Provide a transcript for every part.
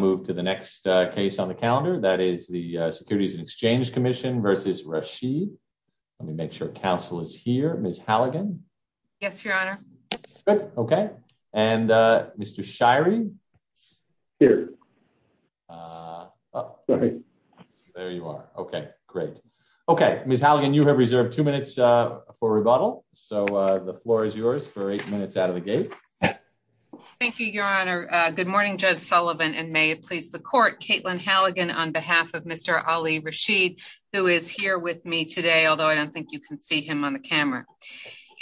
to move to the next case on the calendar. That is the Securities and Exchange Commission versus Rashid. Let me make sure counsel is here. Ms. Halligan. Yes, Your Honor. Okay. And Mr. Shirey. Here. There you are. Okay, great. Okay, Ms. Halligan, you have reserved two minutes for rebuttal. So the floor is yours for eight minutes out of the gate. Thank you, Your Honor. Good morning, Judge Sullivan and may it please the court, Caitlin Halligan on behalf of Mr. Ali Rashid, who is here with me today, although I don't think you can see him on the camera.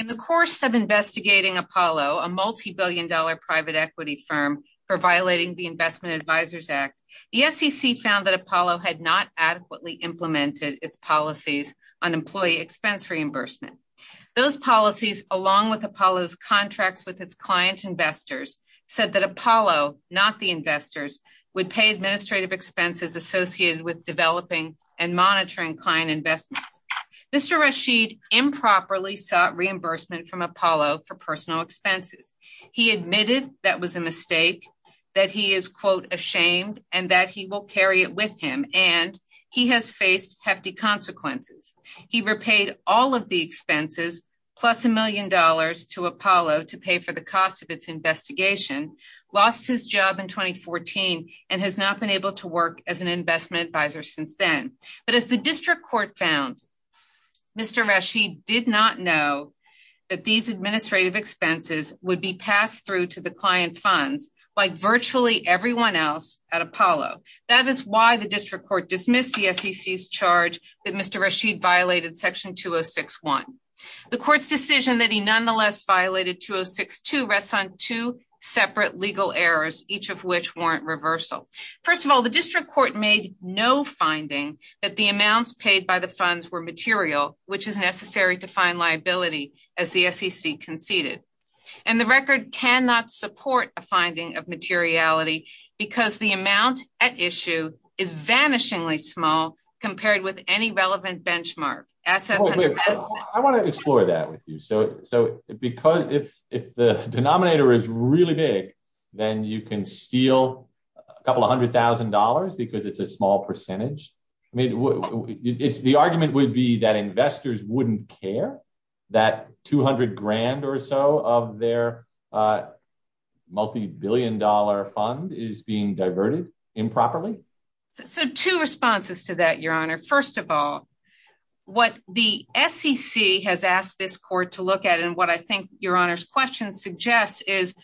In the course of investigating Apollo, a multibillion dollar private equity firm for violating the Investment Advisors Act, the SEC found that Apollo had not adequately implemented its policies on employee expense reimbursement. Those policies along with Apollo's client investors said that Apollo, not the investors, would pay administrative expenses associated with developing and monitoring client investments. Mr. Rashid improperly sought reimbursement from Apollo for personal expenses. He admitted that was a mistake, that he is, quote, ashamed and that he will carry it with him and he has faced hefty consequences. He repaid all of the expenses plus a million dollars to Apollo to pay for the cost of its investigation, lost his job in 2014, and has not been able to work as an investment advisor since then. But as the district court found, Mr. Rashid did not know that these administrative expenses would be passed through to the client funds like virtually everyone else at Apollo. That is why the district court dismissed the SEC's charge that Mr. Rashid violated Section 206-1. The court's decision that he nonetheless violated 206-2 rests on two separate legal errors, each of which warrant reversal. First of all, the district court made no finding that the amounts paid by the funds were material, which is necessary to find liability, as the SEC conceded. And the record cannot support a finding of materiality because the amount at issue is vanishingly small compared with any relevant benchmark. I want to explore that with you. So because if the denominator is really big, then you can steal a couple of hundred thousand dollars because it's a small percentage. I mean, it's the argument would be that investors wouldn't care that 200 grand or so of their multi-billion dollar fund is being diverted improperly. So two responses to that, Your Honor. First of all, what the SEC has asked this court to look at and what I think Your Honor's question suggests is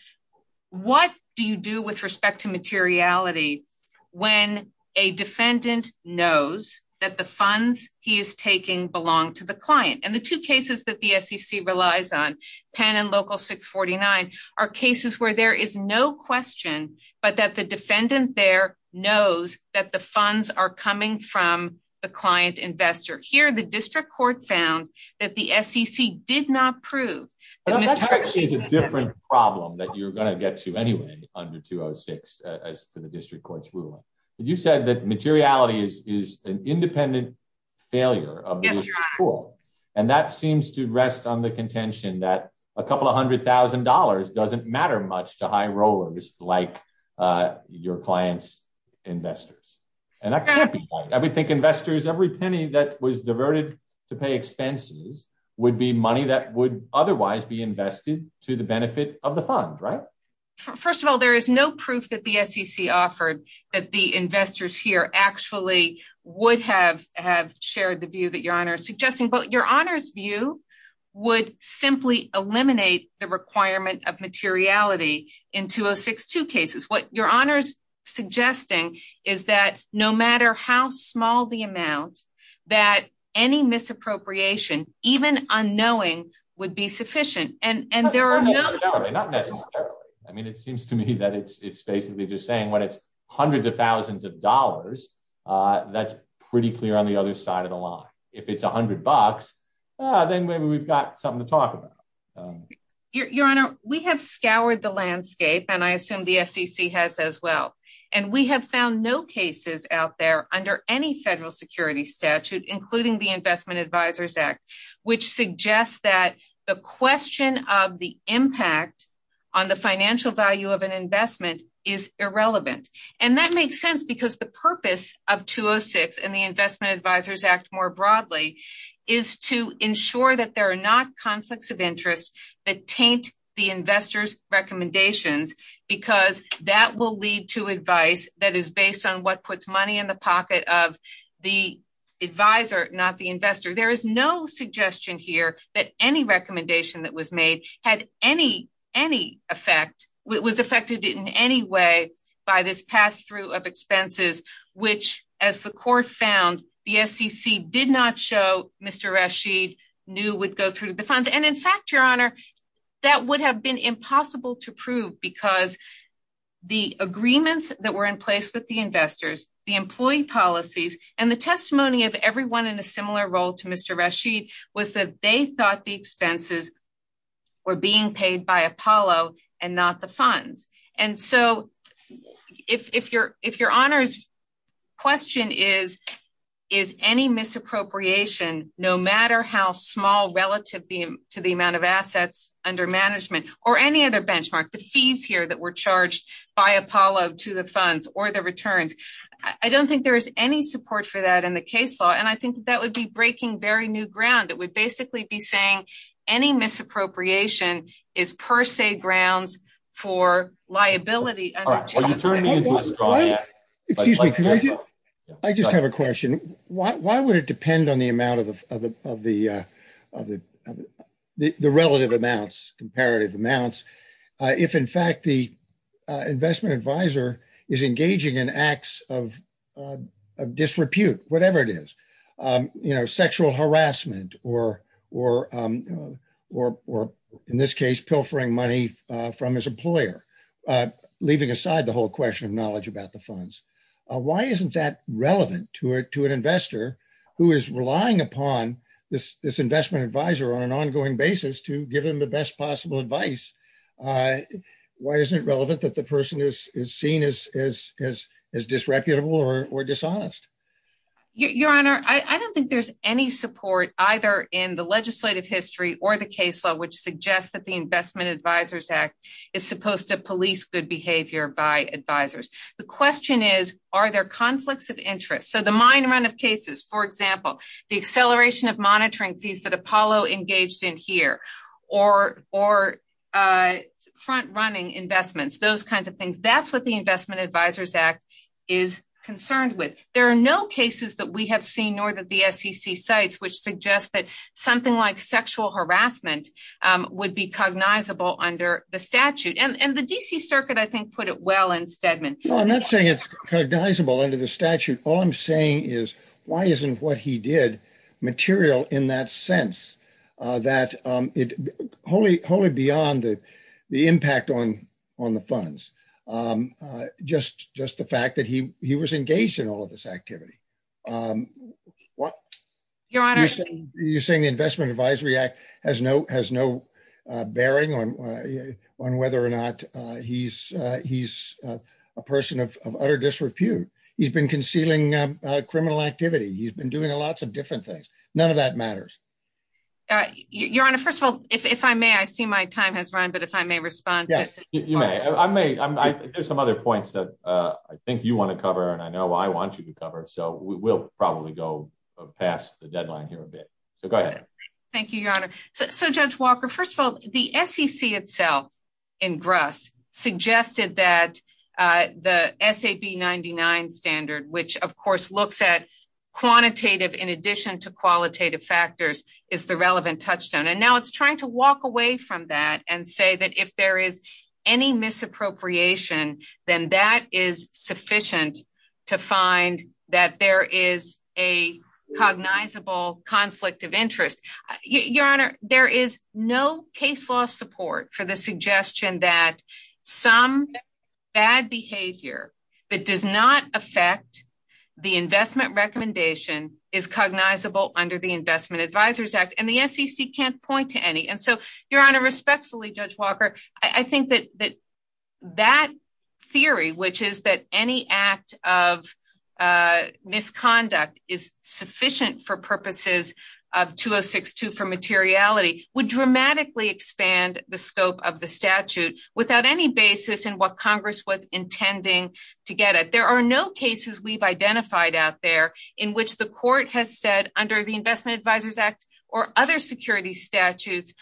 what do you do with respect to materiality when a defendant knows that the funds he is taking belong to the client? And the two cases that the SEC relies on, Penn and Local 649, are cases where there is no question, but that the defendant there knows that the funds are coming from the client investor. Here, the district court found that the SEC did not prove. That actually is a different problem that you're going to get to anyway under 206 as for the district court's ruling. You said that materiality is an independent failure of the rule. And that seems to rest on the contention that a couple of hundred thousand dollars doesn't matter much to high rollers like your client's investors. And I would think investors, every penny that was diverted to pay expenses would be money that would otherwise be invested to the benefit of the fund, right? First of all, there is no proof that the SEC offered that the investors here actually would have shared the view that Your Honor is suggesting. But Your Honor's view would simply eliminate the requirement of materiality in 2062 cases. What Your Honor's suggesting is that no matter how small the amount that any misappropriation, even unknowing, would be sufficient. And there are not necessarily. I mean, it seems to me that it's basically just saying what it's hundreds of thousands of dollars. That's pretty clear on the other side of the line. If it's 100 bucks, then maybe we've got something to talk about. Your Honor, we have scoured the landscape and I assume the SEC has as well. And we have found no cases out there under any federal security statute, including the Investment Advisors Act, which suggests that the question of the impact on the financial value of an investment is irrelevant. And that makes sense because the purpose of 206 and the Investment Advisors Act more broadly is to ensure that there are not conflicts of interest that taint the investors' recommendations, because that will lead to advice that is based on what puts money in the pocket of the advisor, not the investor. There is no suggestion here that any recommendation that was made had any effect, was affected in any way by this pass through of expenses, which as the court found, the SEC did not show Mr. Rashid knew would go the funds. And in fact, Your Honor, that would have been impossible to prove because the agreements that were in place with the investors, the employee policies and the testimony of everyone in a similar role to Mr. Rashid was that they thought the expenses were being paid by Apollo and not the funds. And so if Your Honor's question is, is any misappropriation, no matter how small relative to the amount of assets under management or any other benchmark, the fees here that were charged by Apollo to the funds or the returns, I don't think there is any support for that in the case law. And I think that would be breaking very new ground. It would basically be saying any misappropriation is per se grounds for liability. All right. Will you turn me into a straw? Excuse me. I just have a question. Why would it depend on the amount of the relative amounts, comparative amounts, if in fact the investment advisor is engaging in acts of disrepute, whatever it is, you know, sexual harassment or in this case, pilfering money from his employer, leaving aside the whole question of knowledge about the funds. Why isn't that relevant to an investor who is relying upon this investment advisor on an ongoing basis to give him the best possible advice? Why isn't it relevant that the person is seen as disreputable or dishonest? Your Honor, I don't think there's any support either in the investment advisors act is supposed to police good behavior by advisors. The question is, are there conflicts of interest? So the mine run of cases, for example, the acceleration of monitoring fees that Apollo engaged in here or front running investments, those kinds of things, that's what the investment advisors act is concerned with. There are no cases that we have seen, nor that the SEC sites, which suggests that something like sexual harassment would be cognizable under the statute. And the DC circuit, I think, put it well in Stedman. No, I'm not saying it's cognizable under the statute. All I'm saying is why isn't what he did material in that sense that it wholly, wholly beyond the impact on the funds. Just the fact that he was engaged in all of this activity. Um, what you're saying, the investment advisory act has no bearing on whether or not he's, he's a person of utter disrepute. He's been concealing criminal activity. He's been doing a lots of different things. None of that matters. Your Honor. First of all, if I may, I see my time has run, but if I may respond, you may, I may, there's some other points that, uh, I think you want to cover and I know I want you to cover. So we'll probably go past the deadline here a bit. So go ahead. Thank you, Your Honor. So judge Walker, first of all, the SEC itself in grass suggested that, uh, the SAP 99 standard, which of course looks at quantitative in addition to qualitative factors is the relevant touchstone. And now it's trying to walk away from that and say that if there is any misappropriation, then that is sufficient to find that there is a cognizable conflict of interest. Your Honor, there is no case law support for the suggestion that some bad behavior that does not affect the investment recommendation is cognizable under the investment advisors act and the SEC can't point to any. And so you're on a respectfully judge Walker. I think that, that, that theory, which is that any act of, uh, misconduct is sufficient for purposes of two Oh six, two for materiality would dramatically expand the scope of the statute without any basis in what Congress was intending to get at. There are no cases we've or other security statutes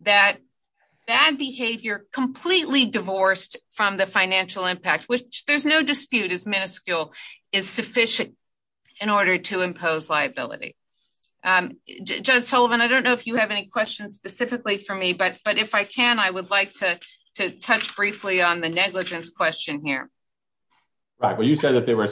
that bad behavior completely divorced from the financial impact, which there's no dispute is minuscule is sufficient in order to impose liability. Um, Judge Sullivan, I don't know if you have any questions specifically for me, but, but if I can, I would like to touch briefly on the negligence question here. Right. Well, you said that there one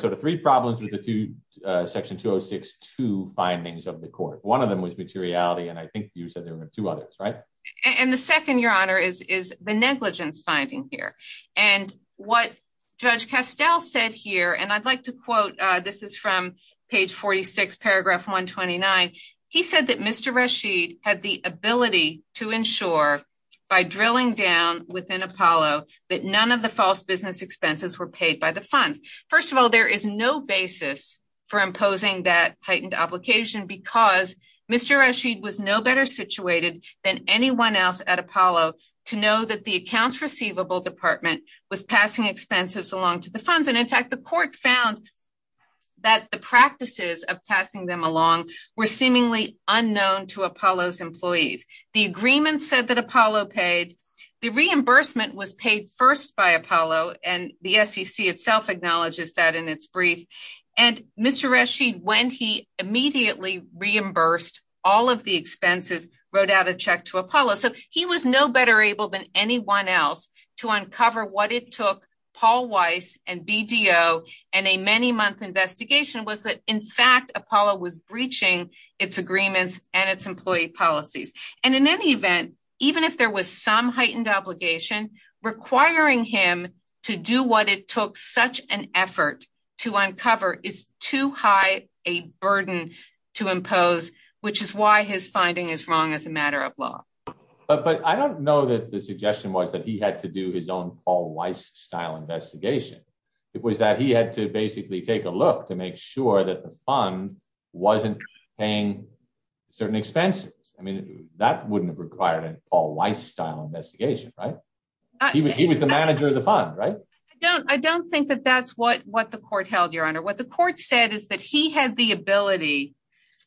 of them was materiality. And I think you said there were two others, right? And the second your honor is, is the negligence finding here and what judge Castile said here. And I'd like to quote, uh, this is from page 46, paragraph one 29. He said that Mr. Rashid had the ability to ensure by drilling down within Apollo, that none of the false business expenses were paid by the funds. First of all, there is no basis for imposing that heightened application because Mr. Rashid was no better situated than anyone else at Apollo to know that the accounts receivable department was passing expenses along to the funds. And in fact, the court found that the practices of passing them along were seemingly unknown to Apollo's employees. The agreement said that Apollo paid the reimbursement was paid first by Apollo and the sec itself acknowledges that in its brief and Mr. Rashid, when he immediately reimbursed all of the expenses wrote out a check to Apollo. So he was no better able than anyone else to uncover what it took Paul Weiss and BDO and a many month investigation was that in fact, Apollo was breaching its agreements and its employee policies. And in any event, even if there was some heightened obligation requiring him to do what it took such an effort to uncover is too high a burden to impose, which is why his finding is wrong as a matter of law. But I don't know that the suggestion was that he had to do his own Paul Weiss style investigation. It was that he had to basically take a look to make sure that the fund wasn't paying certain expenses. I mean, that wouldn't have required a Paul Weiss style investigation, right? He was the manager of the fund, right? I don't, I don't think that that's what, what the court held your honor. What the court said is that he had the ability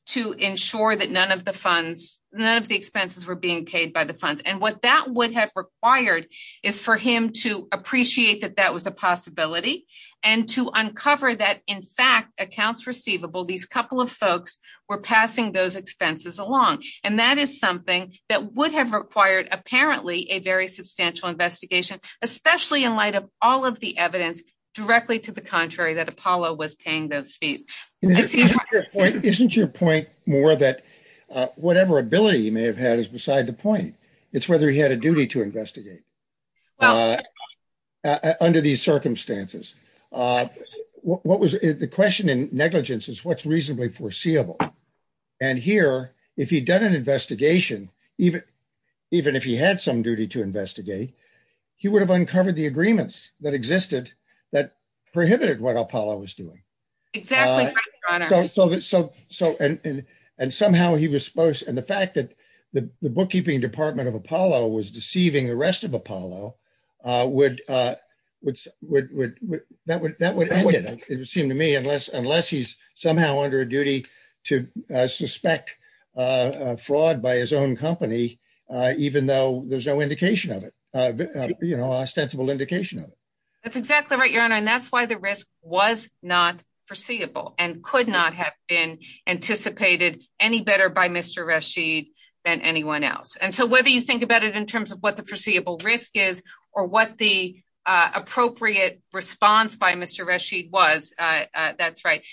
to ensure that none of the funds, none of the expenses were being paid by the funds. And what that would have required is for him to appreciate that that was a possibility and to uncover that in fact accounts receivable, these couple of folks were passing those expenses along. And that is something that would have required apparently a very substantial investigation, especially in light of all of the evidence directly to the contrary that Apollo was paying those fees. Isn't your point more that whatever ability he may have had is beside the point. It's whether he had a duty to investigate under these circumstances. What was the question in is what's reasonably foreseeable. And here, if he'd done an investigation, even, even if he had some duty to investigate, he would have uncovered the agreements that existed that prohibited what Apollo was doing. So, so, so, and, and somehow he was supposed, and the fact that the bookkeeping department of Apollo was deceiving the rest of Apollo would, would, would, would, that would, that would, it would seem to me, unless, unless he's somehow under a duty to suspect fraud by his own company, even though there's no indication of it, you know, ostensible indication of it. That's exactly right, your honor. And that's why the risk was not foreseeable and could not have been anticipated any better by Mr. Rashid than anyone else. And so whether you think about it in terms of what the foreseeable risk is or what the appropriate response by Mr. Rashid was, that's right.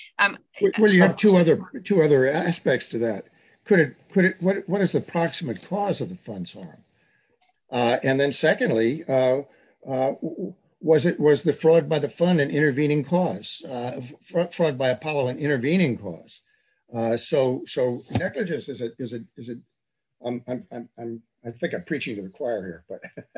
Well, you have two other, two other aspects to that. Could it, could it, what is the proximate cause of the fund's harm? And then secondly, was it, was the fraud by the fund an intervening cause, fraud by Apollo an intervening cause? So, so negligence, is it, is it, I'm, I'm, I'm, I think I'm preaching to the choir here, but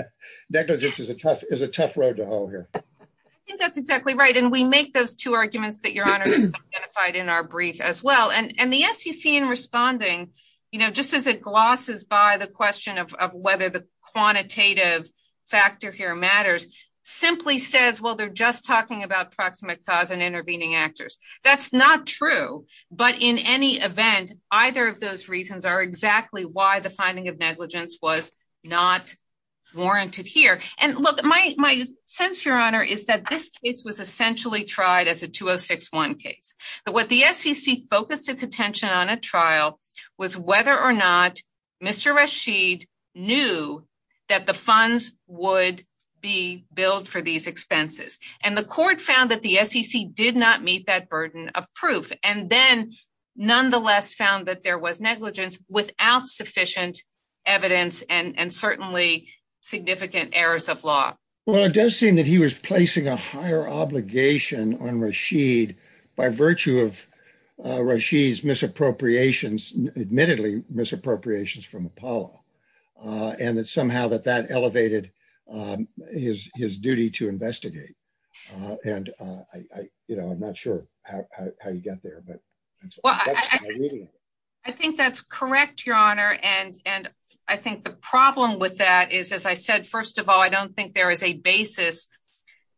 negligence is a tough, is a tough road to hoe here. I think that's exactly right. And we make those two arguments that your honor identified in our brief as well. And, and the SEC in responding, you know, just as it glosses by the question of, of whether the quantitative factor here matters, simply says, well, they're just talking about proximate cause and intervening actors. That's not true. But in any event, either of those reasons are exactly why the finding of negligence was not warranted here. And look, my, my sense, your honor, is that this case was essentially tried as a 2061 case. But what the SEC focused its attention on a trial was whether or not Mr. Rashid knew that the funds would be billed for these expenses. And the court found that the SEC did not meet that burden of proof. And then nonetheless found that there was negligence without sufficient evidence and certainly significant errors of law. Well, it does seem that he was placing a higher obligation on Rashid by virtue of Rashid's misappropriations, admittedly misappropriations from Apollo. And that I, you know, I'm not sure how you get there. But I think that's correct, your honor. And, and I think the problem with that is, as I said, first of all, I don't think there is a basis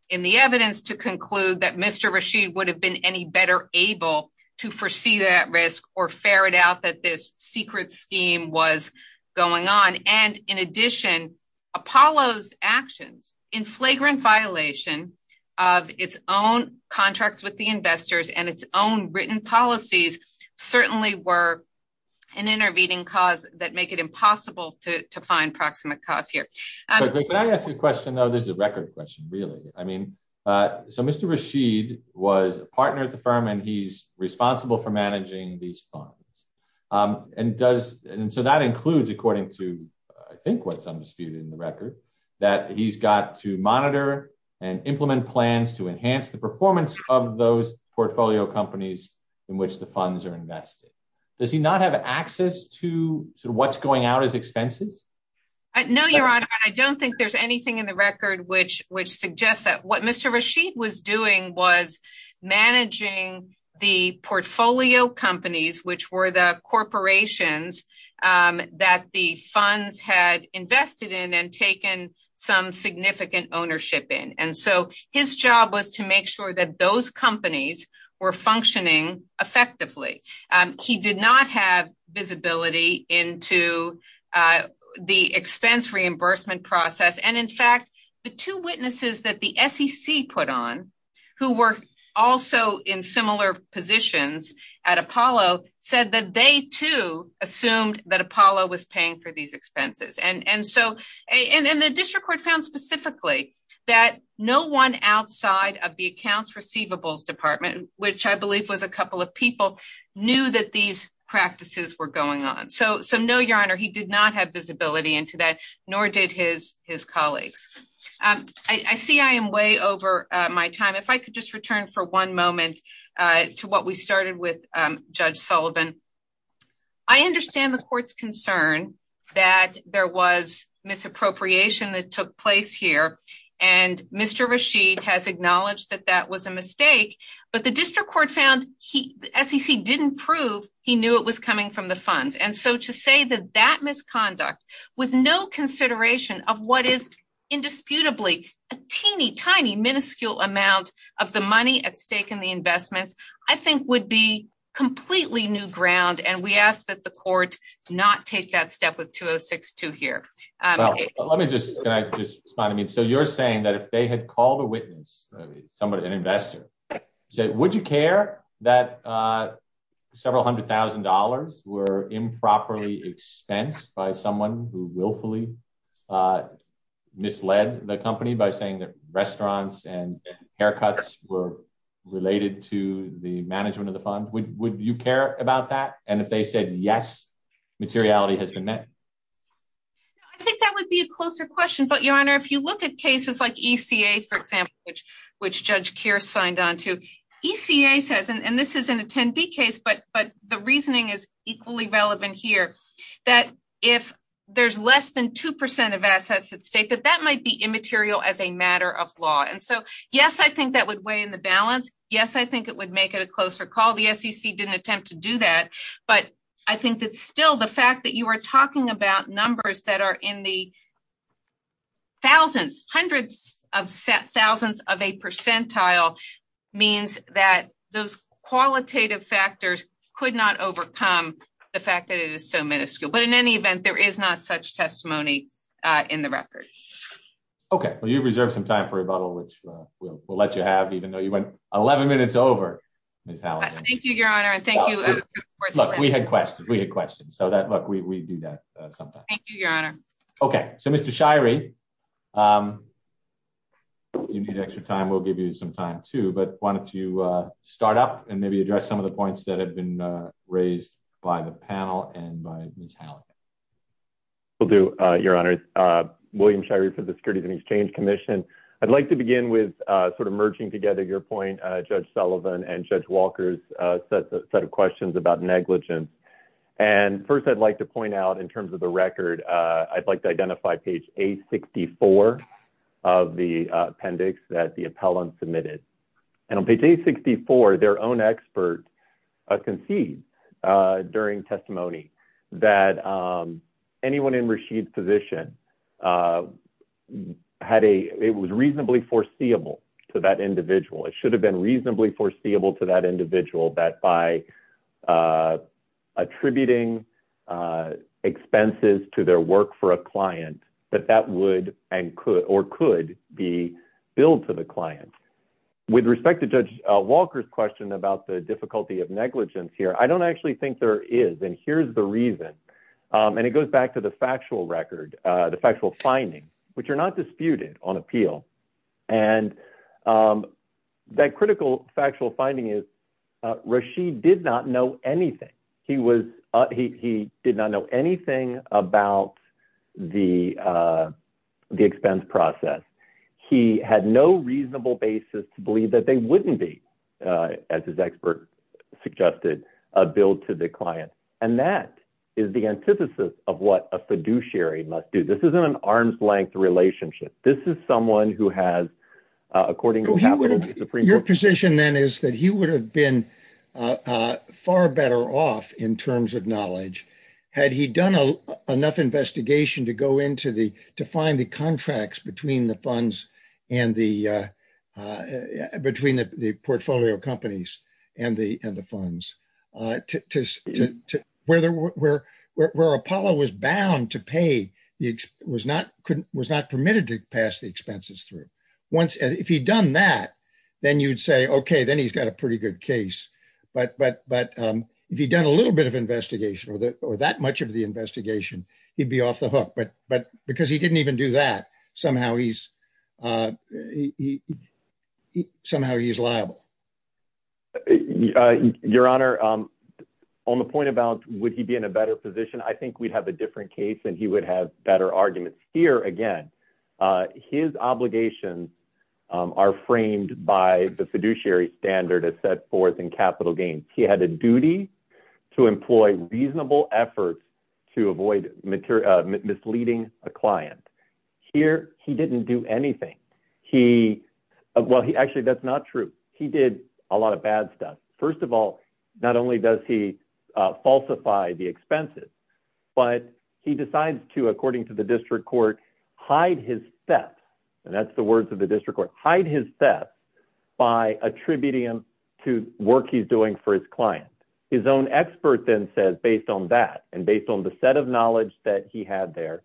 in the evidence to conclude that Mr. Rashid would have been any better able to foresee that risk or ferret out that this secret scheme was going on. And in addition, Apollo's actions in flagrant violation of its own contracts with the investors and its own written policies, certainly were an intervening cause that make it impossible to find proximate cause here. Can I ask you a question, though, there's a record question, really, I mean, so Mr. Rashid was a partner at the firm, and he's responsible for managing these funds. And does, and so that includes according to, I think what's undisputed in the record, that he's got to monitor and implement plans to enhance the performance of those portfolio companies in which the funds are invested. Does he not have access to what's going out as expenses? No, your honor, I don't think there's anything in the record, which which suggests that what Mr. Rashid was doing was managing the portfolio companies, which were the corporations that the funds had invested in and taken some significant ownership in. And so his job was to make sure that those companies were functioning effectively. He did not have visibility into the expense reimbursement process and in fact, the two witnesses that the SEC put on, who were also in similar positions at Apollo said that they too assumed that Apollo was paying for these expenses. And so, and the district court found specifically that no one outside of the accounts receivables department, which I believe was a couple of people knew that these practices were going on. So, so no, your honor, he did not have visibility into that, nor did his, his colleagues. I see I am way over my time. If I could just return for one moment to what we started with Judge Sullivan. I understand the court's concern that there was misappropriation that took place here. And Mr. Rashid has acknowledged that that was a mistake, but the district court found he, SEC didn't prove he knew it was coming from the funds. And so to say that that misconduct with no consideration of what is indisputably a teeny tiny minuscule amount of the money at stake in the investments, I think would be completely new ground. And we ask that the court not take that step with 2062 here. Let me just, can I just respond to me? And so you're saying that if they had called a witness, somebody, an investor said, would you care that several a hundred thousand dollars were improperly expensed by someone who willfully misled the company by saying that restaurants and haircuts were related to the management of the fund. Would you care about that? And if they said, yes, materiality has been met. I think that would be a closer question, but your honor, if you look at cases like ECA, for example, which, which judge Keir signed on to ECA says, and this isn't a 10 B case, but, but the reasoning is equally relevant here that if there's less than 2% of assets at stake, that that might be immaterial as a matter of law. And so, yes, I think that would weigh in the balance. Yes. I think it would make it a closer call. The SEC didn't attempt to do that, but I think that still the fact that you were talking about numbers that are in the thousands, hundreds of thousands of a percentile means that those qualitative factors could not overcome the fact that it is so minuscule, but in any event, there is not such testimony in the record. Okay. Well, you've reserved some time for rebuttal, which we'll let you have, even though you went 11 minutes over. Thank you, your honor. And thank you. We had questions. We had questions. So that, look, we, we do that sometimes. Okay. So Mr. Shirey, you need extra time. We'll give you some time too, but why don't you start up and maybe address some of the points that have been raised by the panel and by Ms. Halligan. Will do your honor, William Shirey for the Securities and Exchange Commission. I'd like begin with sort of merging together your point, Judge Sullivan and Judge Walker's set of questions about negligence. And first I'd like to point out in terms of the record, I'd like to identify page A64 of the appendix that the appellant submitted. And on page A64, their own expert concedes during testimony that anyone in Rashid's position had a, it was reasonably foreseeable to that individual. It should have been reasonably foreseeable to that individual that by attributing expenses to their work for a client, that that would and could, or could be billed to the client. With respect to Judge Walker's question about the difficulty of negligence here, I don't actually think there is. And here's the reason. And it goes back to the factual record, the factual findings, which are not disputed on appeal. And that critical factual finding is Rashid did not know anything. He was, he did not know anything about the expense process. He had no reasonable basis to believe that they wouldn't be, as his expert suggested, billed to the client. And that is the antithesis of what a fiduciary must do. This isn't an arm's length relationship. This is someone who has, according to the Supreme Court- Your position then is that he would have been far better off in terms of knowledge had he done enough investigation to go into the, to find the contracts between the funds and the, between the portfolio companies and the funds. Where Apollo was bound to pay, was not permitted to pass the expenses through. Once, if he'd done that, then you'd say, okay, then he's got a pretty good case. But if he'd done a little bit of investigation or that much of the investigation, he'd be off the hook. But because he didn't even do that, somehow he's, somehow he's liable. Your Honor, on the point about would he be in a better position? I think we'd have a different case and he would have better arguments. Here, again, his obligations are framed by the fiduciary standard as set forth in capital gains. He had a didn't do anything. He, well, he actually, that's not true. He did a lot of bad stuff. First of all, not only does he falsify the expenses, but he decides to, according to the district court, hide his theft. And that's the words of the district court, hide his theft by attributing him to work he's doing for his client. His own expert then says, based on that, and based on the set of knowledge that he had there,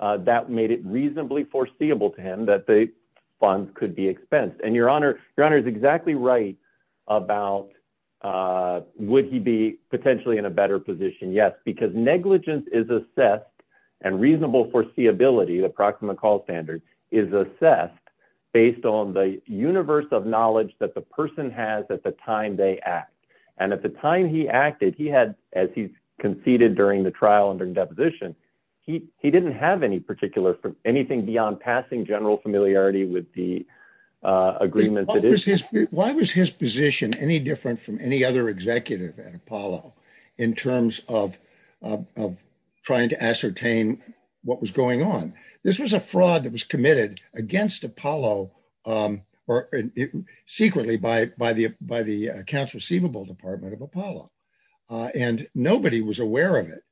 that made it reasonably foreseeable to him that the funds could be expensed. And Your Honor, Your Honor is exactly right about would he be potentially in a better position? Yes, because negligence is assessed and reasonable foreseeability, the proximate call standard, is assessed based on the universe of knowledge that the person has at the time they act. And at the time he acted, he had, as he conceded during the trial and during deposition, he, he didn't have any particular, anything beyond passing general familiarity with the agreement. Why was his position any different from any other executive at Apollo in terms of trying to ascertain what was going on? This was a fraud that was committed against Apollo, um, or secretly by, by the, by the accounts receivable department of Apollo. And nobody was aware of it.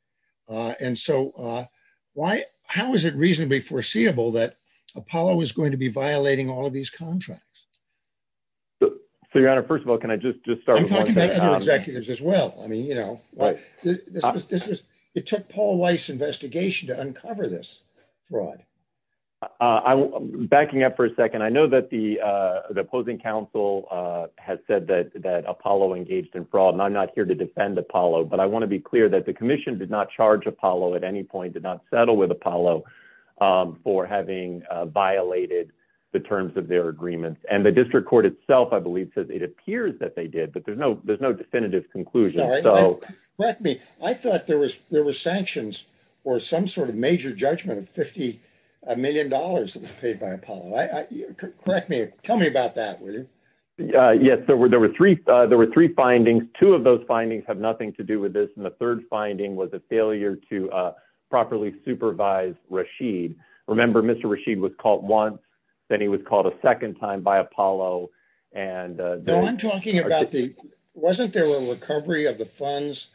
Uh, and so, uh, why, how is it reasonably foreseeable that Apollo is going to be violating all of these contracts? So Your Honor, first of all, can I just, just start talking about executives as well? I mean, you know, this was, this was, it took Paul Weiss investigation to uncover this fraud. Uh, I'm backing up for a second. I know that the, uh, the opposing council, uh, has said that, that Apollo engaged in fraud and I'm not here to defend Apollo, but I want to be clear that the commission did not charge Apollo at any point, did not settle with Apollo, um, for having, uh, violated the terms of their agreements and the district court itself, I believe says it appears that they did, but there's no, there's no definitive conclusion. Correct me. I thought there was sanctions or some sort of major judgment of $50 million that was paid by Apollo. Correct me. Tell me about that. Uh, yes, there were, there were three, uh, there were three findings. Two of those findings have nothing to do with this. And the third finding was a failure to, uh, properly supervise Rashid. Remember Mr. Rashid was caught once, then he was called a second time by Apollo. And, uh, I'm talking about the, wasn't there a recovery of the funds,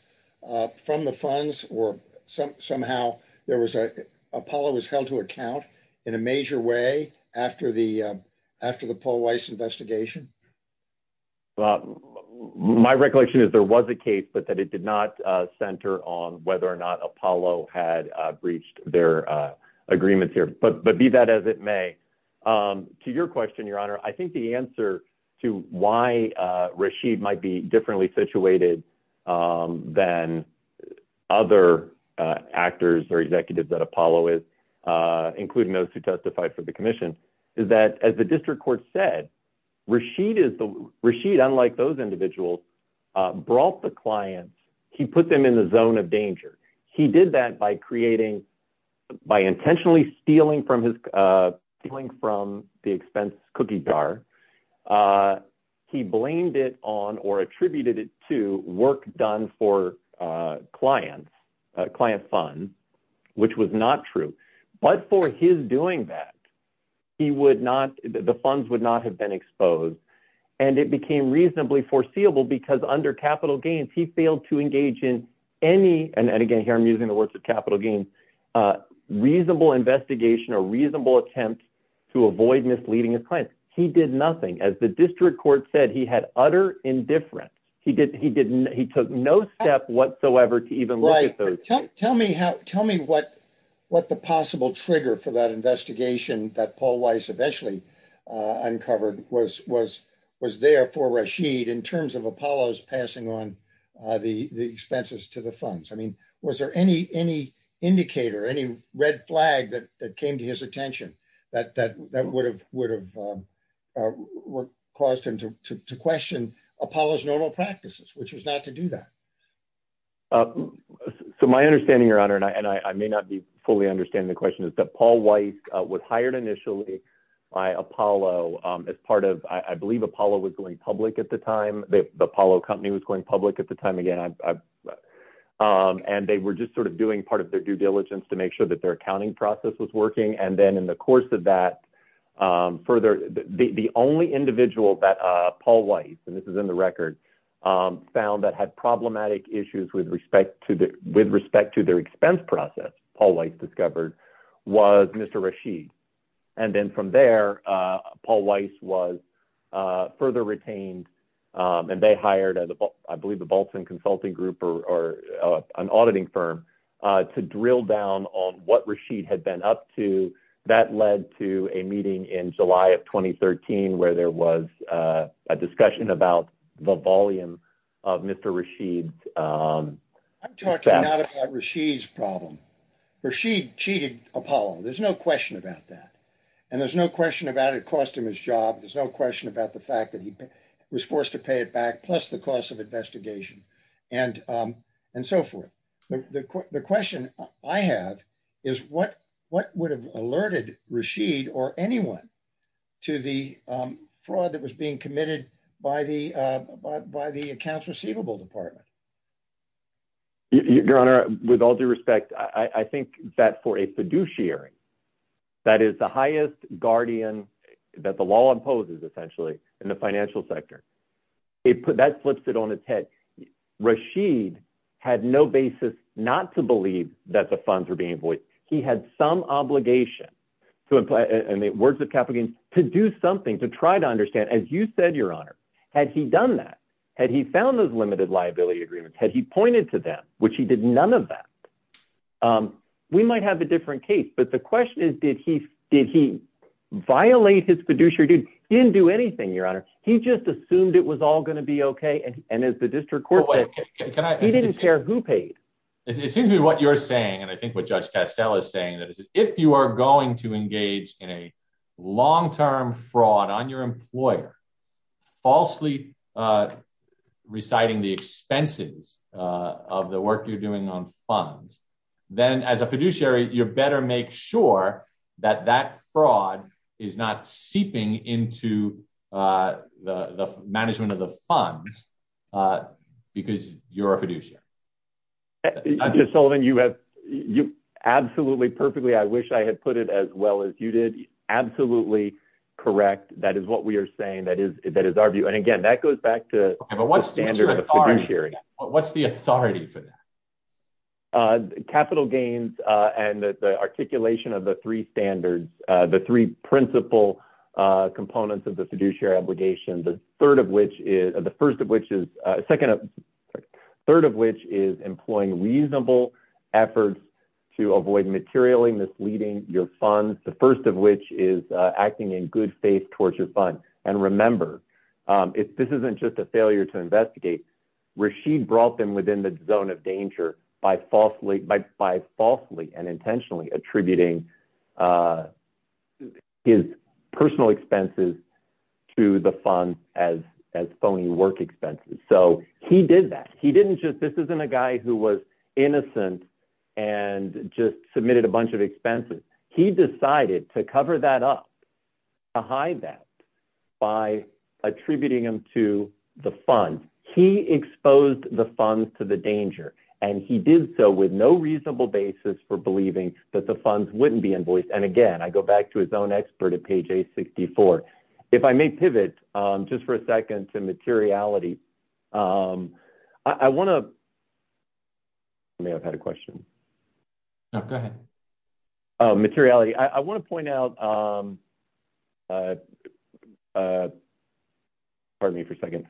uh, from the funds or some, somehow there was, uh, Apollo was held to account in a major way after the, uh, after the Paul Weiss investigation. Well, my recollection is there was a case, but that it did not, uh, center on whether or not Apollo had, uh, breached their, uh, agreements here, but, but be that as it may, um, to your question, your honor, I think the answer to why, uh, Rashid might be differently situated, um, than other, uh, actors or executives that Apollo is, uh, including those who testified for the commission is that as the district court said, Rashid is the Rashid, unlike those individuals, uh, brought the clients, he put them in the zone of danger. He did that by creating, by intentionally stealing from his, uh, from the expense cookie bar. Uh, he blamed it on or attributed it to work done for, uh, clients, a client fund, which was not true, but for his doing that, he would not, the funds would not have been exposed. And it became reasonably foreseeable because under capital gains, he failed to engage in any. And again, here, I'm using the words of capital gains, uh, reasonable investigation or reasonable attempt to avoid misleading his clients. He did nothing. As the district court said, he had utter indifference. He did, he didn't, he took no step whatsoever to even look at those. Tell me how, tell me what, what the possible trigger for that investigation that Paul Weiss eventually, uh, uncovered was, was, was there for Rashid in Was there any, any indicator, any red flag that came to his attention that, that, that would have, would have, um, uh, were caused him to, to, to question Apollo's normal practices, which was not to do that. Um, so my understanding your honor, and I, and I may not be fully understanding the question is that Paul Weiss was hired initially by Apollo, um, as part of, I believe Apollo was going public at the time that the Apollo company was going public at the time. I, um, and they were just sort of doing part of their due diligence to make sure that their accounting process was working. And then in the course of that, um, further, the, the only individual that, uh, Paul Weiss, and this is in the record, um, found that had problematic issues with respect to the, with respect to their expense process, Paul Weiss discovered was Mr. Rashid. And then from there, uh, Paul Weiss was, uh, further retained. Um, and they hired as I believe the Bolton consulting group or, or, uh, an auditing firm, uh, to drill down on what Rashid had been up to that led to a meeting in July of 2013, where there was, uh, a discussion about the volume of Mr. Rashid. Um, I'm talking about Rashid's problem. Rashid cheated Apollo. There's no question about that. And there's no question about it cost him his job. There's no question about the fact that he was forced to pay it back plus the cost of investigation and, um, and so forth. The, the, the question I have is what, what would have alerted Rashid or anyone to the, um, fraud that was being committed by the, uh, by, by the accounts receivable department. Your honor, with all due respect, I think that for a fiduciary that is the highest guardian that the law imposes essentially in the financial sector, it put that flips it on its head. Rashid had no basis, not to believe that the funds were being voiced. He had some obligation and the words of capital gains to do something, to try to understand, as you said, your honor, had he done that, had he found those limited liability agreements, had he pointed to them, which he did none of that, um, we might have a different case, but the question is, did he, did he violate his fiduciary? He didn't do anything, your honor. He just assumed it was all going to be okay. And as the district court, he didn't care who paid. It seems to me what you're saying. And I think what judge Castell is saying that if you are going to engage in a long-term fraud on your employer, falsely, uh, reciting the expenses, uh, of the work you're doing on funds, then as a fiduciary, you better make sure that that fraud is not seeping into, uh, the management of the funds, uh, because you're a fiduciary. I'm just solving. You have you absolutely perfectly. I wish I had put it as well as you did. Absolutely. Correct. That is what we are saying. That is, that is our view. And again, that goes back to standard hearing. What's the authority for that? Uh, capital gains, and the articulation of the three standards, uh, the three principal, uh, components of the fiduciary obligation. The third of which is the first of which is a second, a third of which is employing reasonable efforts to avoid materially misleading your funds. The first of which is acting in good faith towards your fund. And remember, um, if this isn't just a failure to and intentionally attributing, uh, his personal expenses to the fund as, as phony work expenses. So he did that. He didn't just, this isn't a guy who was innocent and just submitted a bunch of expenses. He decided to cover that up, to hide that by attributing them to the fund. He exposed the funds to the danger and he did so with no reasonable basis for believing that the funds wouldn't be invoiced. And again, I go back to his own expert at page eight 64. If I may pivot, um, just for a second to materiality. Um, I want to, I may have had a question. No, go ahead. Uh, materiality. I want to point out, um, uh, uh, pardon me for a second.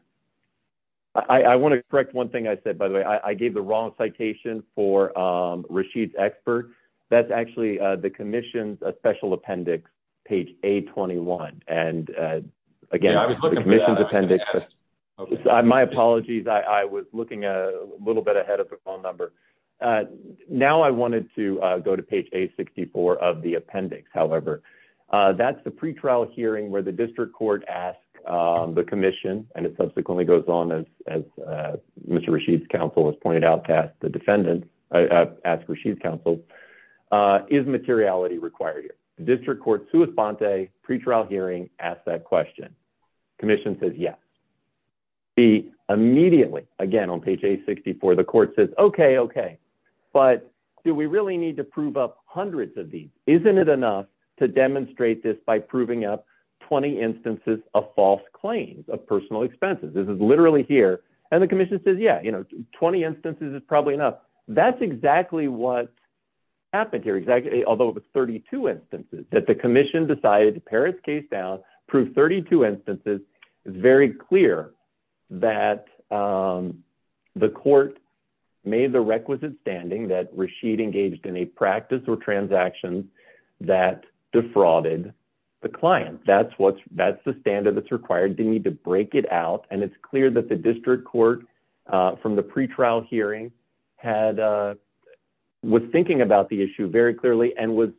I want to correct one thing I said, by the way, I gave the wrong citation for, um, Rashid's expert. That's actually, uh, the commission's a special appendix page eight 21. And, uh, again, my apologies. I was looking a little bit ahead of the phone number. Uh, now I wanted to go to page eight 64 of the appendix. However, uh, that's the pretrial hearing where the district court asked, um, the commission and it subsequently goes on as, as, uh, Mr. Rashid's counsel has pointed out past the defendant, uh, ask Rashid's counsel, uh, is materiality required here? The district court's pre-trial hearing asked that question. Commission says, yes. The immediately again, on page eight 64, the court says, okay, okay. But do we really need to prove up hundreds of these? Isn't it enough to demonstrate this by proving up 20 instances of false claims of personal expenses? This is literally here. And the commission says, yeah, you know, 20 instances is probably enough. That's exactly what happened here. Exactly. Although it was 32 instances that the commission decided to pare its case down, prove 32 instances. It's very clear that, um, the court made the requisite standing that Rashid engaged in a practice or transactions that defrauded the client. That's what's, that's the standard that's required. Didn't need to break it out. And it's clear that the district court, uh, from the pretrial hearing had, uh, was thinking about the issue very clearly and was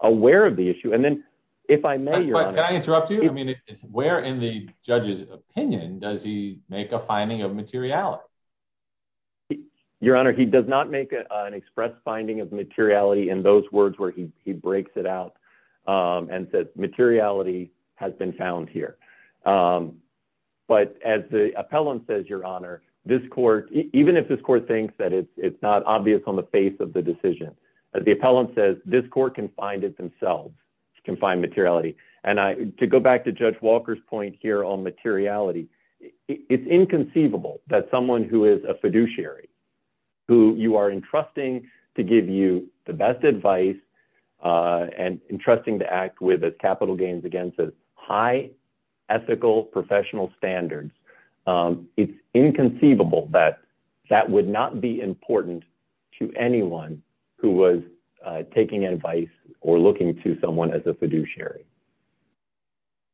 aware of the issue. And then if I may interrupt you, I mean, where in the judge's opinion does he make a finding of materiality? Your honor, he does not make an express finding of materiality in those words where he breaks it out. Um, and says materiality has been found here. Um, but as the appellant says, your honor, this court, even if this court thinks that it's, it's not obvious on the face of the decision, as the appellant says, this court can find it themselves, can find materiality. And I, to go back to judge Walker's point here on materiality, it's inconceivable that someone who is a fiduciary, who you are entrusting to give you the best advice, uh, and entrusting to act with as capital gains against a high ethical professional standards. Um, it's inconceivable that that would not be important to anyone who was taking advice or looking to someone as a fiduciary.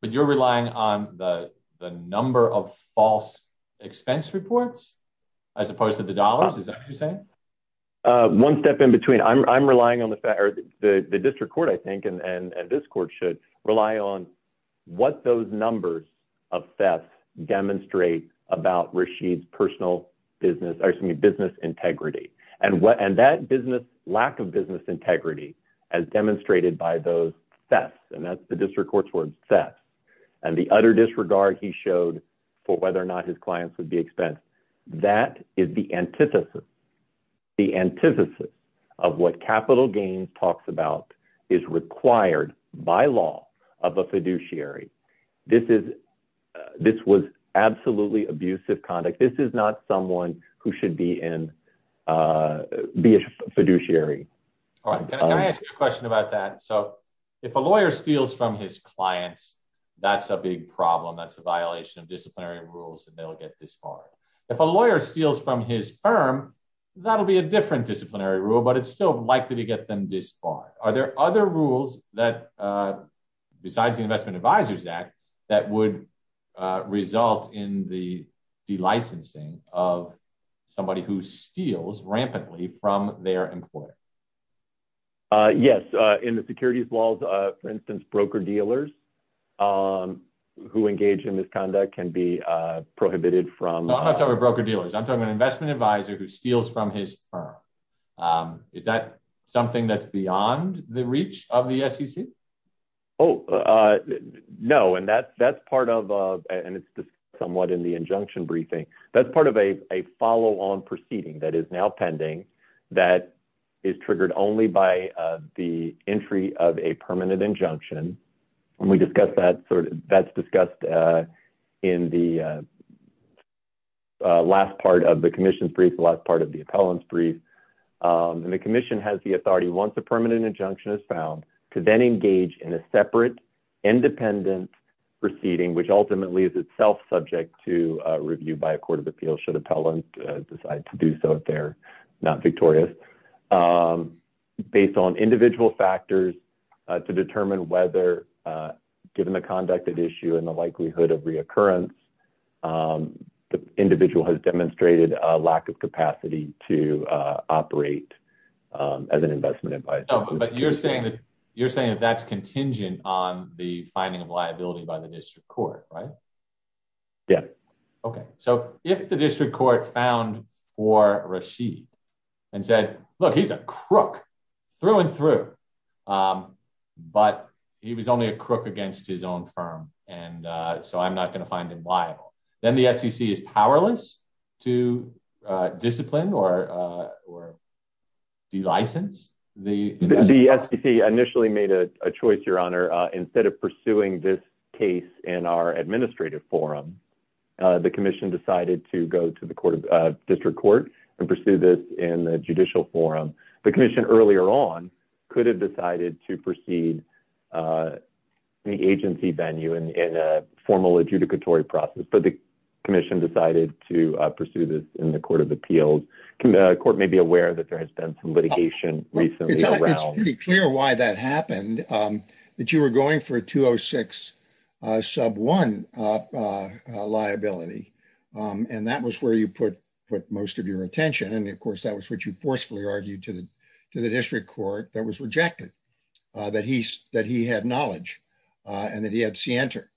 But you're relying on the, the number of false expense reports, as opposed to the dollars. Is that what you're saying? Uh, one step in between I'm, I'm relying on the fact that the district court, I think, and, and this court should rely on what those numbers of theft demonstrate about Rashid's personal business, excuse me, business integrity. And what, and that business lack of business integrity as demonstrated by those thefts. And that's the district courts were obsessed and the utter disregard he showed for whether or not his clients would be expensed. That is the antithesis, the antithesis of what capital gains talks about is required by law of a fiduciary. This is, uh, this was absolutely abusive conduct. This is not someone who should be in, uh, be a fiduciary. All right. Can I ask you a question about that? So if a lawyer steals from his clients, that's a big problem. That's a violation of disciplinary rules and they'll get disbarred. If a lawyer steals from his firm, that'll be a different disciplinary rule, but it's still likely to get them disbarred. Are there other rules that, uh, besides the investment advisors act that would, uh, result in the de-licensing of somebody who steals rampantly from their employer? Uh, yes. Uh, in the securities laws, uh, for instance, broker dealers, um, who engage in misconduct can be, uh, prohibited from. No, I'm not talking about broker dealers. I'm talking about an investment advisor who steals from his firm. Um, is that something that's beyond the reach of the SEC? Oh, uh, no. And that's, that's part of, uh, and it's just somewhat in the injunction briefing. That's part of a, a follow on proceeding that is now pending that is triggered only by, uh, the entry of a permanent injunction. And we discussed that sort of that's discussed, uh, in the, uh, uh, last part of the commission's brief, the last part of the appellant's brief. Um, and the commission has the authority once a permanent injunction is found to then engage in a separate independent proceeding, which ultimately is itself subject to a review by a court of appeal should appellant decide to do so, if they're not victorious, um, based on individual factors, uh, to determine whether, uh, given the conduct of issue and the likelihood of reoccurrence, um, the individual has demonstrated a lack of capacity to, uh, operate, um, as an investment advisor. But you're saying that you're saying that that's contingent on the finding of liability by the district court, right? Yeah. Okay. So if the district court found for Rasheed and said, look, he's a crook through and through. Um, but he was only a crook against his own firm. And, uh, so I'm not going to find him liable. Then the SEC is powerless to, uh, discipline or, uh, or do you license? The SEC initially made a choice, your honor, uh, instead of pursuing this case in our administrative forum, uh, the commission decided to go to the court of, uh, district court and pursue this in the judicial forum. The commission earlier on could have decided to proceed, uh, the agency venue in, in a formal adjudicatory process, but the commission decided to pursue this in the court of appeals. Can the court may be aware that there has been some litigation recently around. It's pretty clear why that happened, um, that you were going for a 206, uh, sub one, uh, uh, liability. Um, and that was where you put, put most of your attention. And of course that was what you forcefully argued to the, to the district court that was rejected, uh, that he S that he had knowledge, uh, and that he had C enter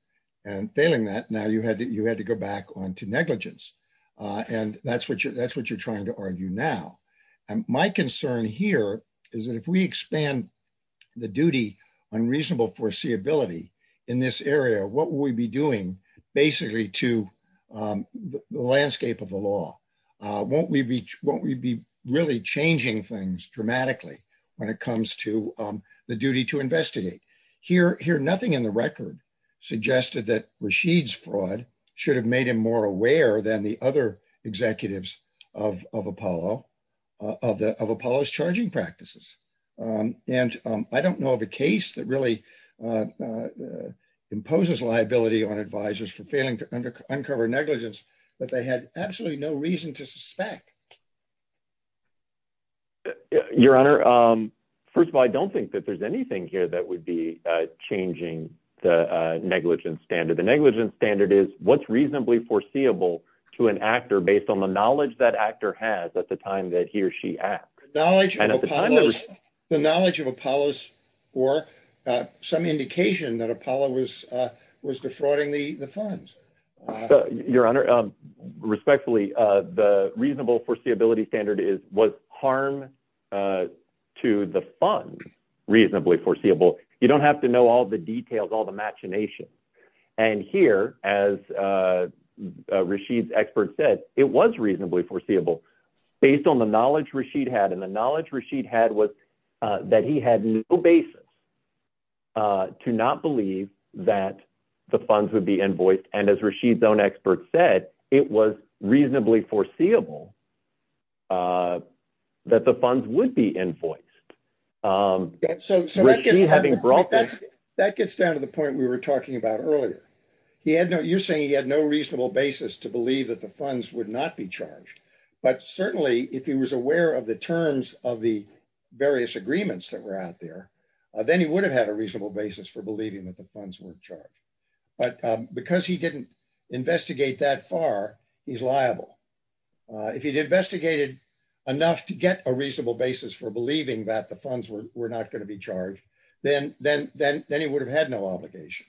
and failing that now you had to, you had to go back on to negligence. Uh, and that's what you're, that's what you're trying to argue now. And my concern here is that if we expand the duty on reasonable foreseeability in this area, what will we be doing basically to, um, the landscape of the law? Uh, won't we be, won't we be really changing things dramatically when it comes to, um, the duty to investigate here, here, nothing in the record suggested that Rashid's fraud should have made him more aware than the other executives of, of Apollo, uh, of the, of Apollo's charging practices. Um, and, um, I don't know of a case that really, uh, uh, imposes liability on advisors for failing uncover negligence, but they had absolutely no reason to suspect. Your honor. Um, first of all, I don't think that there's anything here that would be, uh, changing the, uh, negligence standard. The negligence standard is what's reasonably foreseeable to an actor based on the knowledge that actor has at the time that he or she asked the knowledge of Apollo's or, uh, some indication that Apollo was, uh, was defrauding the funds. Your honor, um, respectfully, uh, the reasonable foreseeability standard is what harm, uh, to the funds reasonably foreseeable. You don't have to know all the details, all the machinations. And here as, uh, uh, Rashid's expert said it was reasonably foreseeable based on the knowledge Rashid had. And the knowledge Rashid had was, uh, that he had no basis, uh, to not that the funds would be invoiced. And as Rashid's own expert said, it was reasonably foreseeable, uh, that the funds would be invoiced. Um, having brought that gets down to the point we were talking about earlier, he had no, you're saying he had no reasonable basis to believe that the funds would not be charged, but certainly if he was aware of the terms of the various agreements that were out there, uh, then he would have had a reasonable basis for believing that the funds weren't charged. But, um, because he didn't investigate that far, he's liable. Uh, if he'd investigated enough to get a reasonable basis for believing that the funds were not going to be charged, then, then, then, then he would have had no obligation.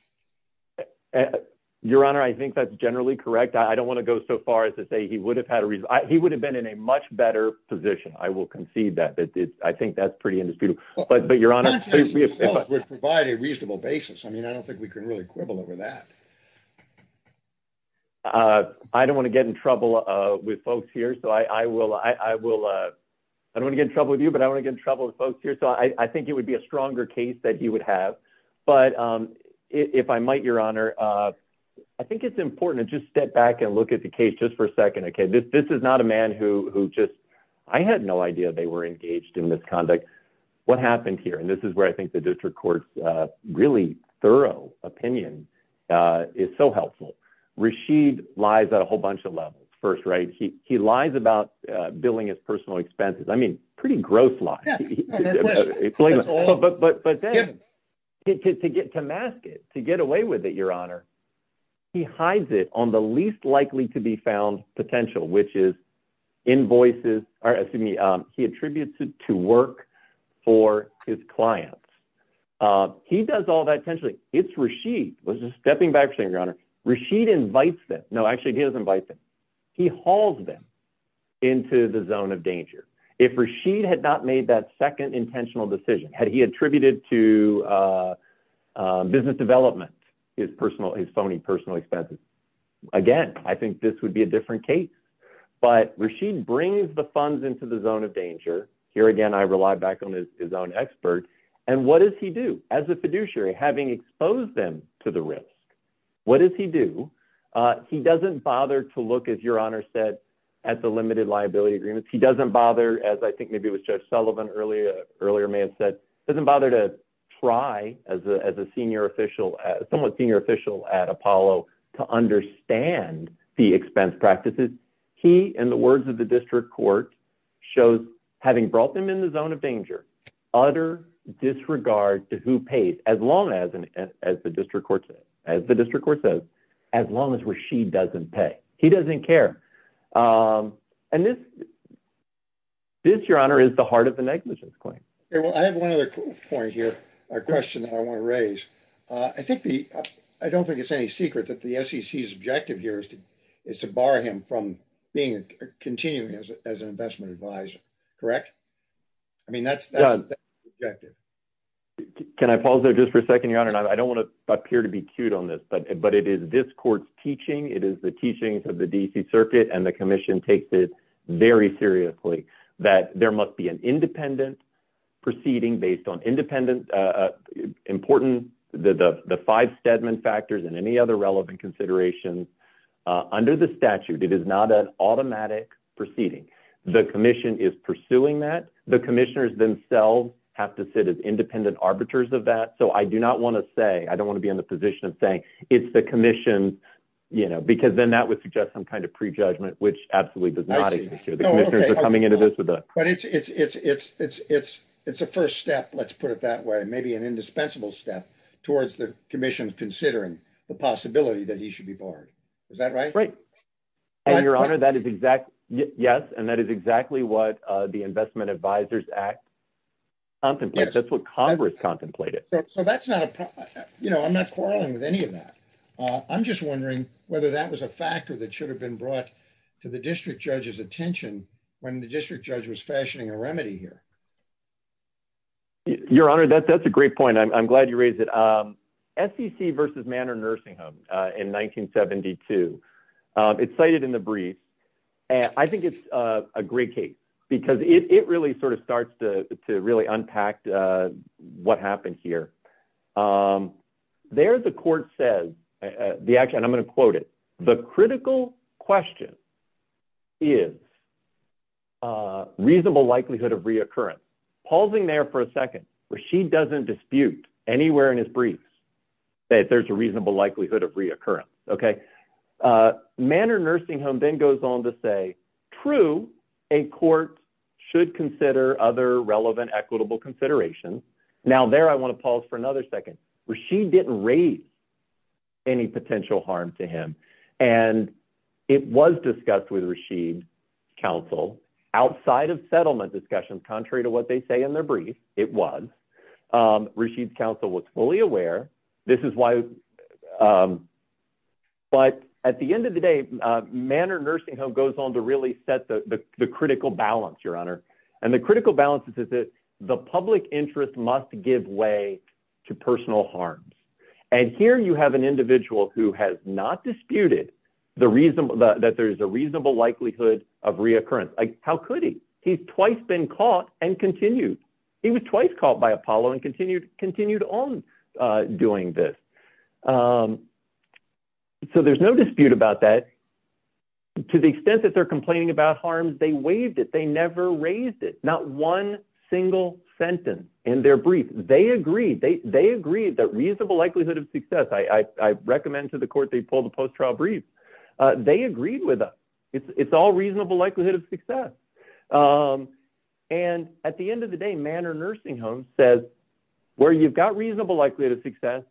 Your honor, I think that's generally correct. I don't want to go so far as to say he would have had a reason. He would have in a much better position. I will concede that it's, I think that's pretty indisputable, but, but your honor would provide a reasonable basis. I mean, I don't think we can really quibble over that. Uh, I don't want to get in trouble, uh, with folks here. So I, I will, I will, uh, I don't want to get in trouble with you, but I want to get in trouble with folks here. So I, I think it would be a stronger case that he would have. But, um, if I might, your honor, uh, I think it's important to just step back and look at the case just for a second. Okay. This, this is not a man who, who just, I had no idea they were engaged in misconduct. What happened here? And this is where I think the district court's a really thorough opinion, uh, is so helpful. Rashid lies at a whole bunch of levels first, right? He, he lies about billing his personal expenses. I mean, pretty gross lie, but, but, but to get to mask it, to get away with it, he hides it on the least likely to be found potential, which is invoices or excuse me. Um, he attributes it to work for his clients. Uh, he does all that potentially it's Rashid was just stepping back from your honor Rashid invites them. No, actually he doesn't bite them. He hauls them into the zone of danger. If Rashid had not made that second intentional decision, had he attributed to, uh, uh, business development, his personal, his phony personal expenses. Again, I think this would be a different case, but Rashid brings the funds into the zone of danger here. Again, I rely back on his, his own expert. And what does he do as a fiduciary having exposed them to the risk? What does he do? Uh, he doesn't bother to look as your honor said at the limited liability agreements. He doesn't bother as I think maybe it was judge Sullivan earlier, earlier may have said, doesn't bother to try as a, as a senior official, somewhat senior official at Apollo to understand the expense practices. He, in the words of the district court shows having brought them in the zone of danger, utter disregard to who pays as long as, as the district courts, as the district court says, as long as Rashid doesn't pay, he doesn't care. Um, and this, this your honor is the heart of the negligence claim. Okay. Well, I have one other point here, a question that I want to raise. Uh, I think the, I don't think it's any secret that the sec is objective here is to, is to bar him from being continuing as an investment advisor, correct? I mean, that's, that's objective. Can I pause there just for a second, your honor? And I don't want to appear to be cute on this, but it is this court's teaching. It is the teachings of the DC circuit and the commission takes it very seriously that there must be an independent proceeding based on independent, uh, important, the, the, the five Stedman factors and any other relevant considerations, uh, under the statute, it is not an automatic proceeding. The commission is pursuing that the commissioners themselves have to sit as independent arbiters of that. So I do not want to say, I don't want to be in the position of saying it's the commission, you know, because then that would suggest some kind of prejudgment, which absolutely does not come into this with that, but it's, it's, it's, it's, it's, it's, it's a first step. Let's put it that way. Maybe an indispensable step towards the commission considering the possibility that he should be barred. Is that right? Right. And your honor, that is exact. Yes. And that is exactly what, uh, the investment advisors act. That's what Congress contemplated. So that's not you know, I'm not quarreling with any of that. Uh, I'm just wondering whether that was a factor that should have been brought to the district judge's attention when the district judge was fashioning a remedy here, your honor. That's, that's a great point. I'm glad you raised it. Um, sec versus Manor nursing home, uh, in 1972, um, it's cited in the brief. And I think it's, uh, a great case because it, it really sort of starts to, to really unpack, uh, what happened here. Um, there's a court says the action, I'm going to quote it. The critical question is, uh, reasonable likelihood of reoccurrence pausing there for a second where she doesn't dispute anywhere in his briefs that there's a reasonable likelihood of reoccurrence. Okay. Uh, Manor nursing home then goes on to say true. A court should consider other relevant, equitable considerations. Now there, I want to pause for another second where she didn't raise any potential harm to him. And it was discussed with Rashid council outside of settlement discussions, contrary to what they say in their brief. It was, um, Rashid's council was fully aware. This is why, um, but at the end of the day, uh, Manor nursing home goes on to really set the, the critical balance, your honor. And the critical balances is that the public interest must give way to personal harms. And here you have an individual who has not disputed the reason that there's a reasonable likelihood of reoccurrence. How could he, he's twice been caught and continued. He was twice caught by Apollo and continued, continued on, uh, doing this. Um, so there's no dispute about that to the extent that they're complaining about harms. They waived it. They never raised it. Not one single sentence in their brief. They agreed. They, they agreed that reasonable likelihood of success. I, I recommend to the court, they pulled the post-trial brief. Uh, they agreed with us. It's all reasonable likelihood of success. Um, and at the end of the day, Manor nursing home says where you've got reasonable likelihood of success,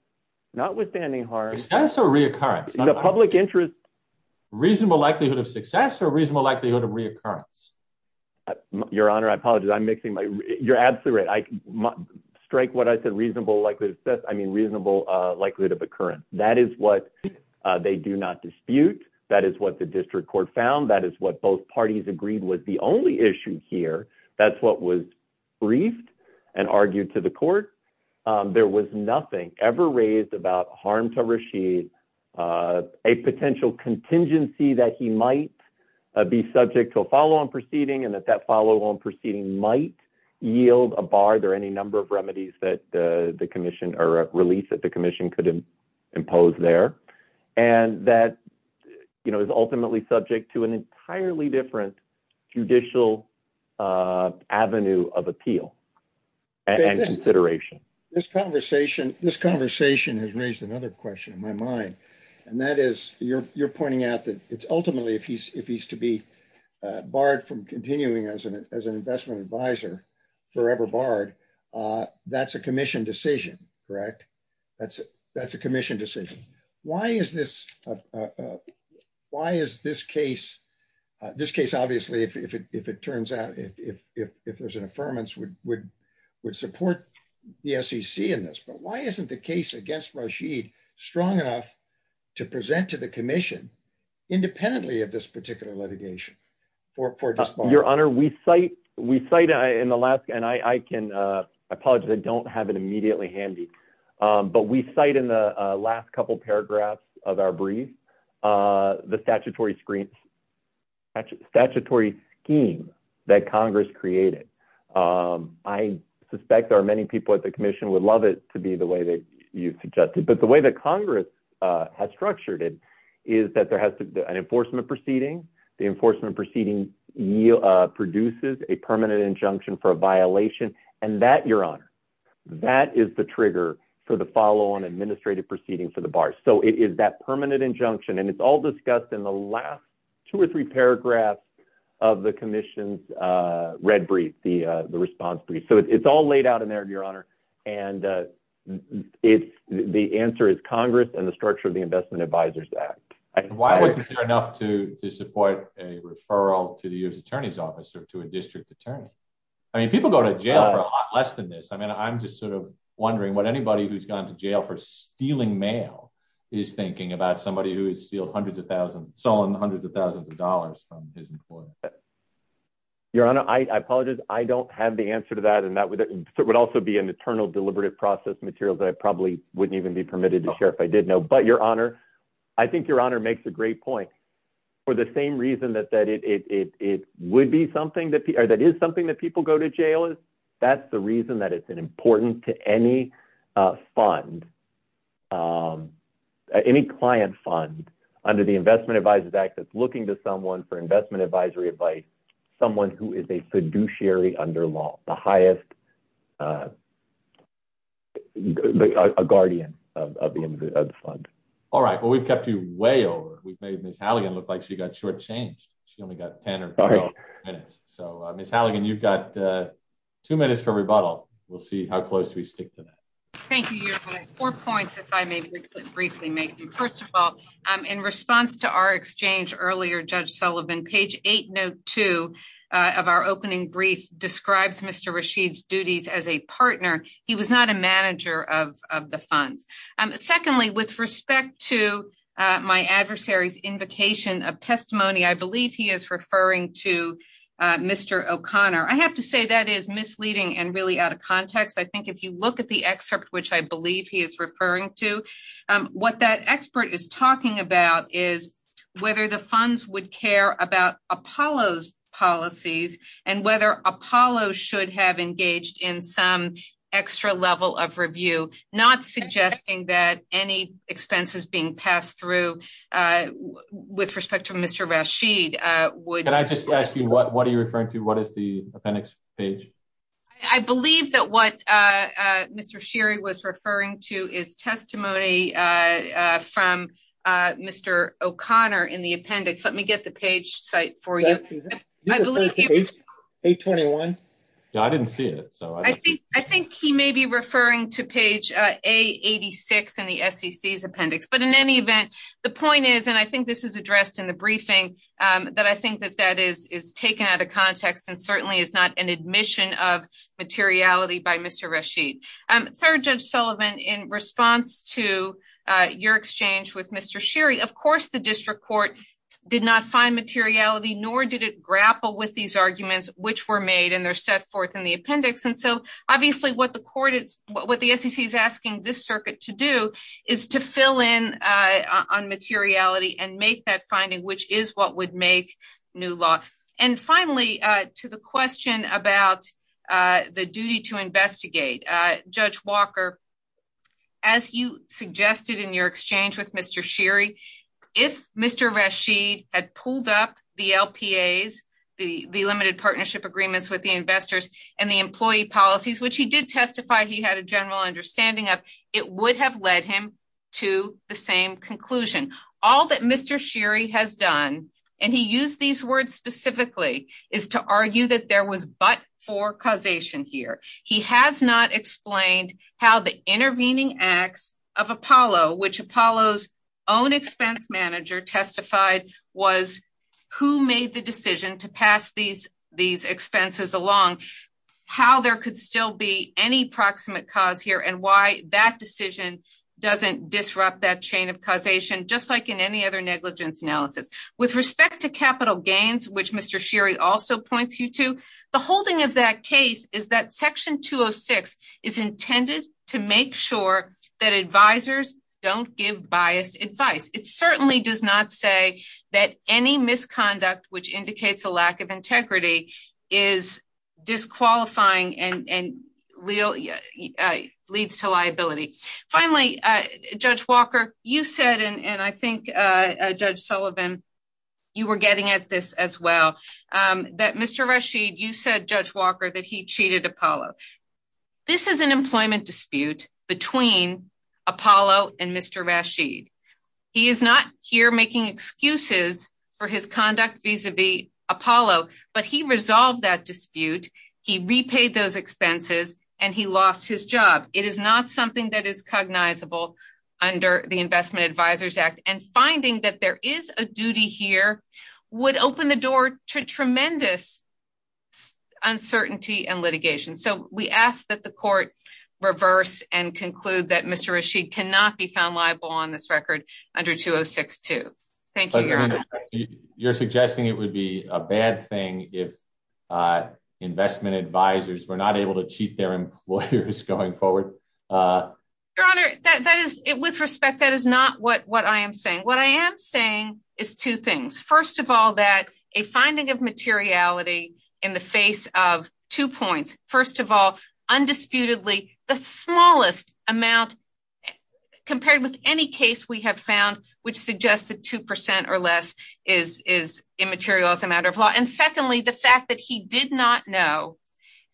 notwithstanding success or reoccurrence in the public interest, reasonable likelihood of success or reasonable likelihood of reoccurrence. Your honor. I apologize. I'm mixing my you're absolutely right. I strike what I said. Reasonable likelihood of success. I mean, reasonable, uh, likelihood of occurrence. That is what, uh, they do not dispute. That is what the district court found. That is what both parties agreed was the only issue here. That's what was briefed and argued to the court. Um, there was nothing ever raised about harm to Rashid, uh, a potential contingency that he might be subject to a follow on proceeding and that that follow on proceeding might yield a bar. There are any number of remedies that, uh, the commission or release that the commission could impose there. And that, you know, is ultimately subject to an entirely different judicial, uh, avenue of appeal and consideration. This conversation, this conversation has raised another question in my mind, and that is you're, you're pointing out that it's ultimately, if he's, if he's to be, uh, barred from continuing as an, as an investment advisor, forever barred, uh, that's a commission decision, correct? That's, that's a commission decision. Why is this, uh, uh, why is this case, uh, this case, obviously, if it, if it turns out, if, if, if, if there's an affirmance would, would, would support the sec in this, but why isn't the case against Rashid strong enough to present to the commission independently of this particular litigation for, for your honor? We cite, we cite in the last, and I, I can, uh, I apologize. I of our brief, uh, the statutory screen, actually statutory scheme that Congress created. Um, I suspect there are many people at the commission would love it to be the way that you suggested, but the way that Congress, uh, has structured it is that there has to be an enforcement proceeding. The enforcement proceeding yield, uh, produces a permanent injunction for a violation and that that is the trigger for the follow on administrative proceeding for the bar. So it is that permanent injunction. And it's all discussed in the last two or three paragraphs of the commission's, uh, red brief, the, uh, the response brief. So it's all laid out in there, your honor. And, uh, it's the answer is Congress and the structure of the investment advisors act. Why wasn't there enough to support a referral to the U S attorney's office or to a district attorney? I mean, people go to jail for a lot less than this. I mean, I'm just sort of wondering what anybody who's gone to jail for stealing mail is thinking about somebody who has stealed hundreds of thousands, stolen hundreds of thousands of dollars from his employer. Your honor, I apologize. I don't have the answer to that. And that would also be an eternal deliberative process material that I probably wouldn't even be permitted to share if I did know, but your honor, I think your honor makes a great point for the same reason that, it, it, it would be something that, or that is something that people go to jail is that's the reason that it's an important to any, uh, fund, um, any client fund under the investment advisors act. That's looking to someone for investment advisory advice, someone who is a fiduciary under law, the highest, uh, a guardian of the fund. All right. Well, we've kept you way over. We've made Ms. Halligan look like she got short change. She only got 10 or 12 minutes. So Ms. Halligan, you've got, uh, two minutes for rebuttal. We'll see how close we stick to that. Thank you. Your four points. If I may briefly make them first of all, um, in response to our exchange earlier, judge Sullivan page eight note two, uh, of our opening brief describes Mr. Rashid's duties as a partner. He was not a manager of, of the funds. Um, secondly, with respect to, uh, my adversary's invocation of testimony, I believe he is referring to, uh, Mr. O'Connor. I have to say that is misleading and really out of context. I think if you look at the excerpt, which I believe he is referring to, um, what that expert is talking about is whether the funds would care about Apollo's policies and whether Apollo should have engaged in some extra level of review, not suggesting that any expenses being passed through, uh, with respect to Mr. Rashid, uh, would I just ask you what, what are you referring to? What is the appendix page? I believe that what, uh, uh, Mr. Sherry was referring to is testimony, uh, uh, from, uh, Mr. O'Connor in the appendix. Let me get the page site for you. I believe 821. Yeah, I didn't see it. So I think, I think he may be referring to page, uh, a 86 in the secs appendix, but in any event, the point is, and I think this is addressed in the briefing, um, that I think that that is, is taken out of context and certainly is not an admission of materiality by Mr. Rashid. Um, third judge Sullivan in response to, uh, your exchange with Mr. Sherry, of course, the district court did not find materiality, nor did it grapple with these arguments, which were made and they're set forth in the appendix. And so obviously what the court is, what the sec is asking this circuit to do is to fill in, uh, on materiality and make that finding, which is what would make new law. And finally, uh, to the question about, uh, the duty to investigate, uh, judge Walker, as you suggested in exchange with Mr. Sherry, if Mr. Rashid had pulled up the LPAs, the, the limited partnership agreements with the investors and the employee policies, which he did testify, he had a general understanding of it would have led him to the same conclusion. All that Mr. Sherry has done. And he used these words specifically is to argue that there was, but for causation here, he has not explained how the intervening acts of Apollo, which Apollo's own expense manager testified was who made the decision to pass these, these expenses along, how there could still be any proximate cause here and why that decision doesn't disrupt that chain of causation, just like in any other negligence analysis with respect to capital gains, which Mr. Sherry also points you to the holding of that case is that section 206 is intended to make sure that advisors don't give biased advice. It certainly does not say that any misconduct, which indicates a lack of integrity is disqualifying and, and Leo leads to liability. Finally, uh, judge Walker, you said, and I think, uh, uh, judge Sullivan, you were getting at this as well, um, that Mr. Rashid, you said judge Walker that he cheated Apollo. This is an employment dispute between Apollo and Mr. Rashid. He is not here making excuses for his conduct vis-a-vis Apollo, but he resolved that dispute. He repaid those expenses and he lost his job. It is not something that is cognizable under the investment advisors act and finding that there is a duty here would open the door to tremendous uncertainty and litigation. So we ask that the court reverse and conclude that Mr. Rashid cannot be found liable on this record under 2062. Thank you. You're suggesting it would be a bad thing if, uh, investment advisors were not able to cheat their lawyers going forward. Uh, your honor, that, that is it with respect. That is not what, what I am saying. What I am saying is two things. First of all, that a finding of materiality in the face of two points, first of all, undisputedly the smallest amount compared with any case we have found, which suggests that 2% or less is, is immaterial as a matter of law. And secondly, the fact that he did not know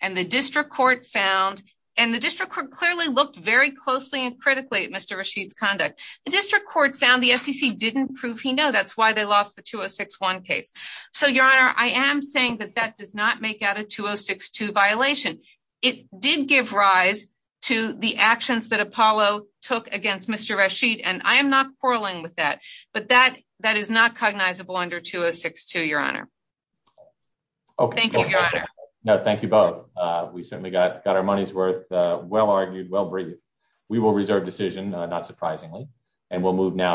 and the district court found, and the district court clearly looked very closely and critically at Mr. Rashid's conduct. The district court found the SEC didn't prove he know that's why they lost the 2061 case. So your honor, I am saying that that does not make out a 2062 violation. It did give rise to the actions that Apollo took against Mr. Rashid. And I am not quarreling with that, but that, that is not cognizable under 2062, your honor. Thank you, your honor. No, thank you both. Uh, we certainly got, got our money's worth, uh, well argued, well breathed. We will reserve decision, not surprisingly, and we'll move now.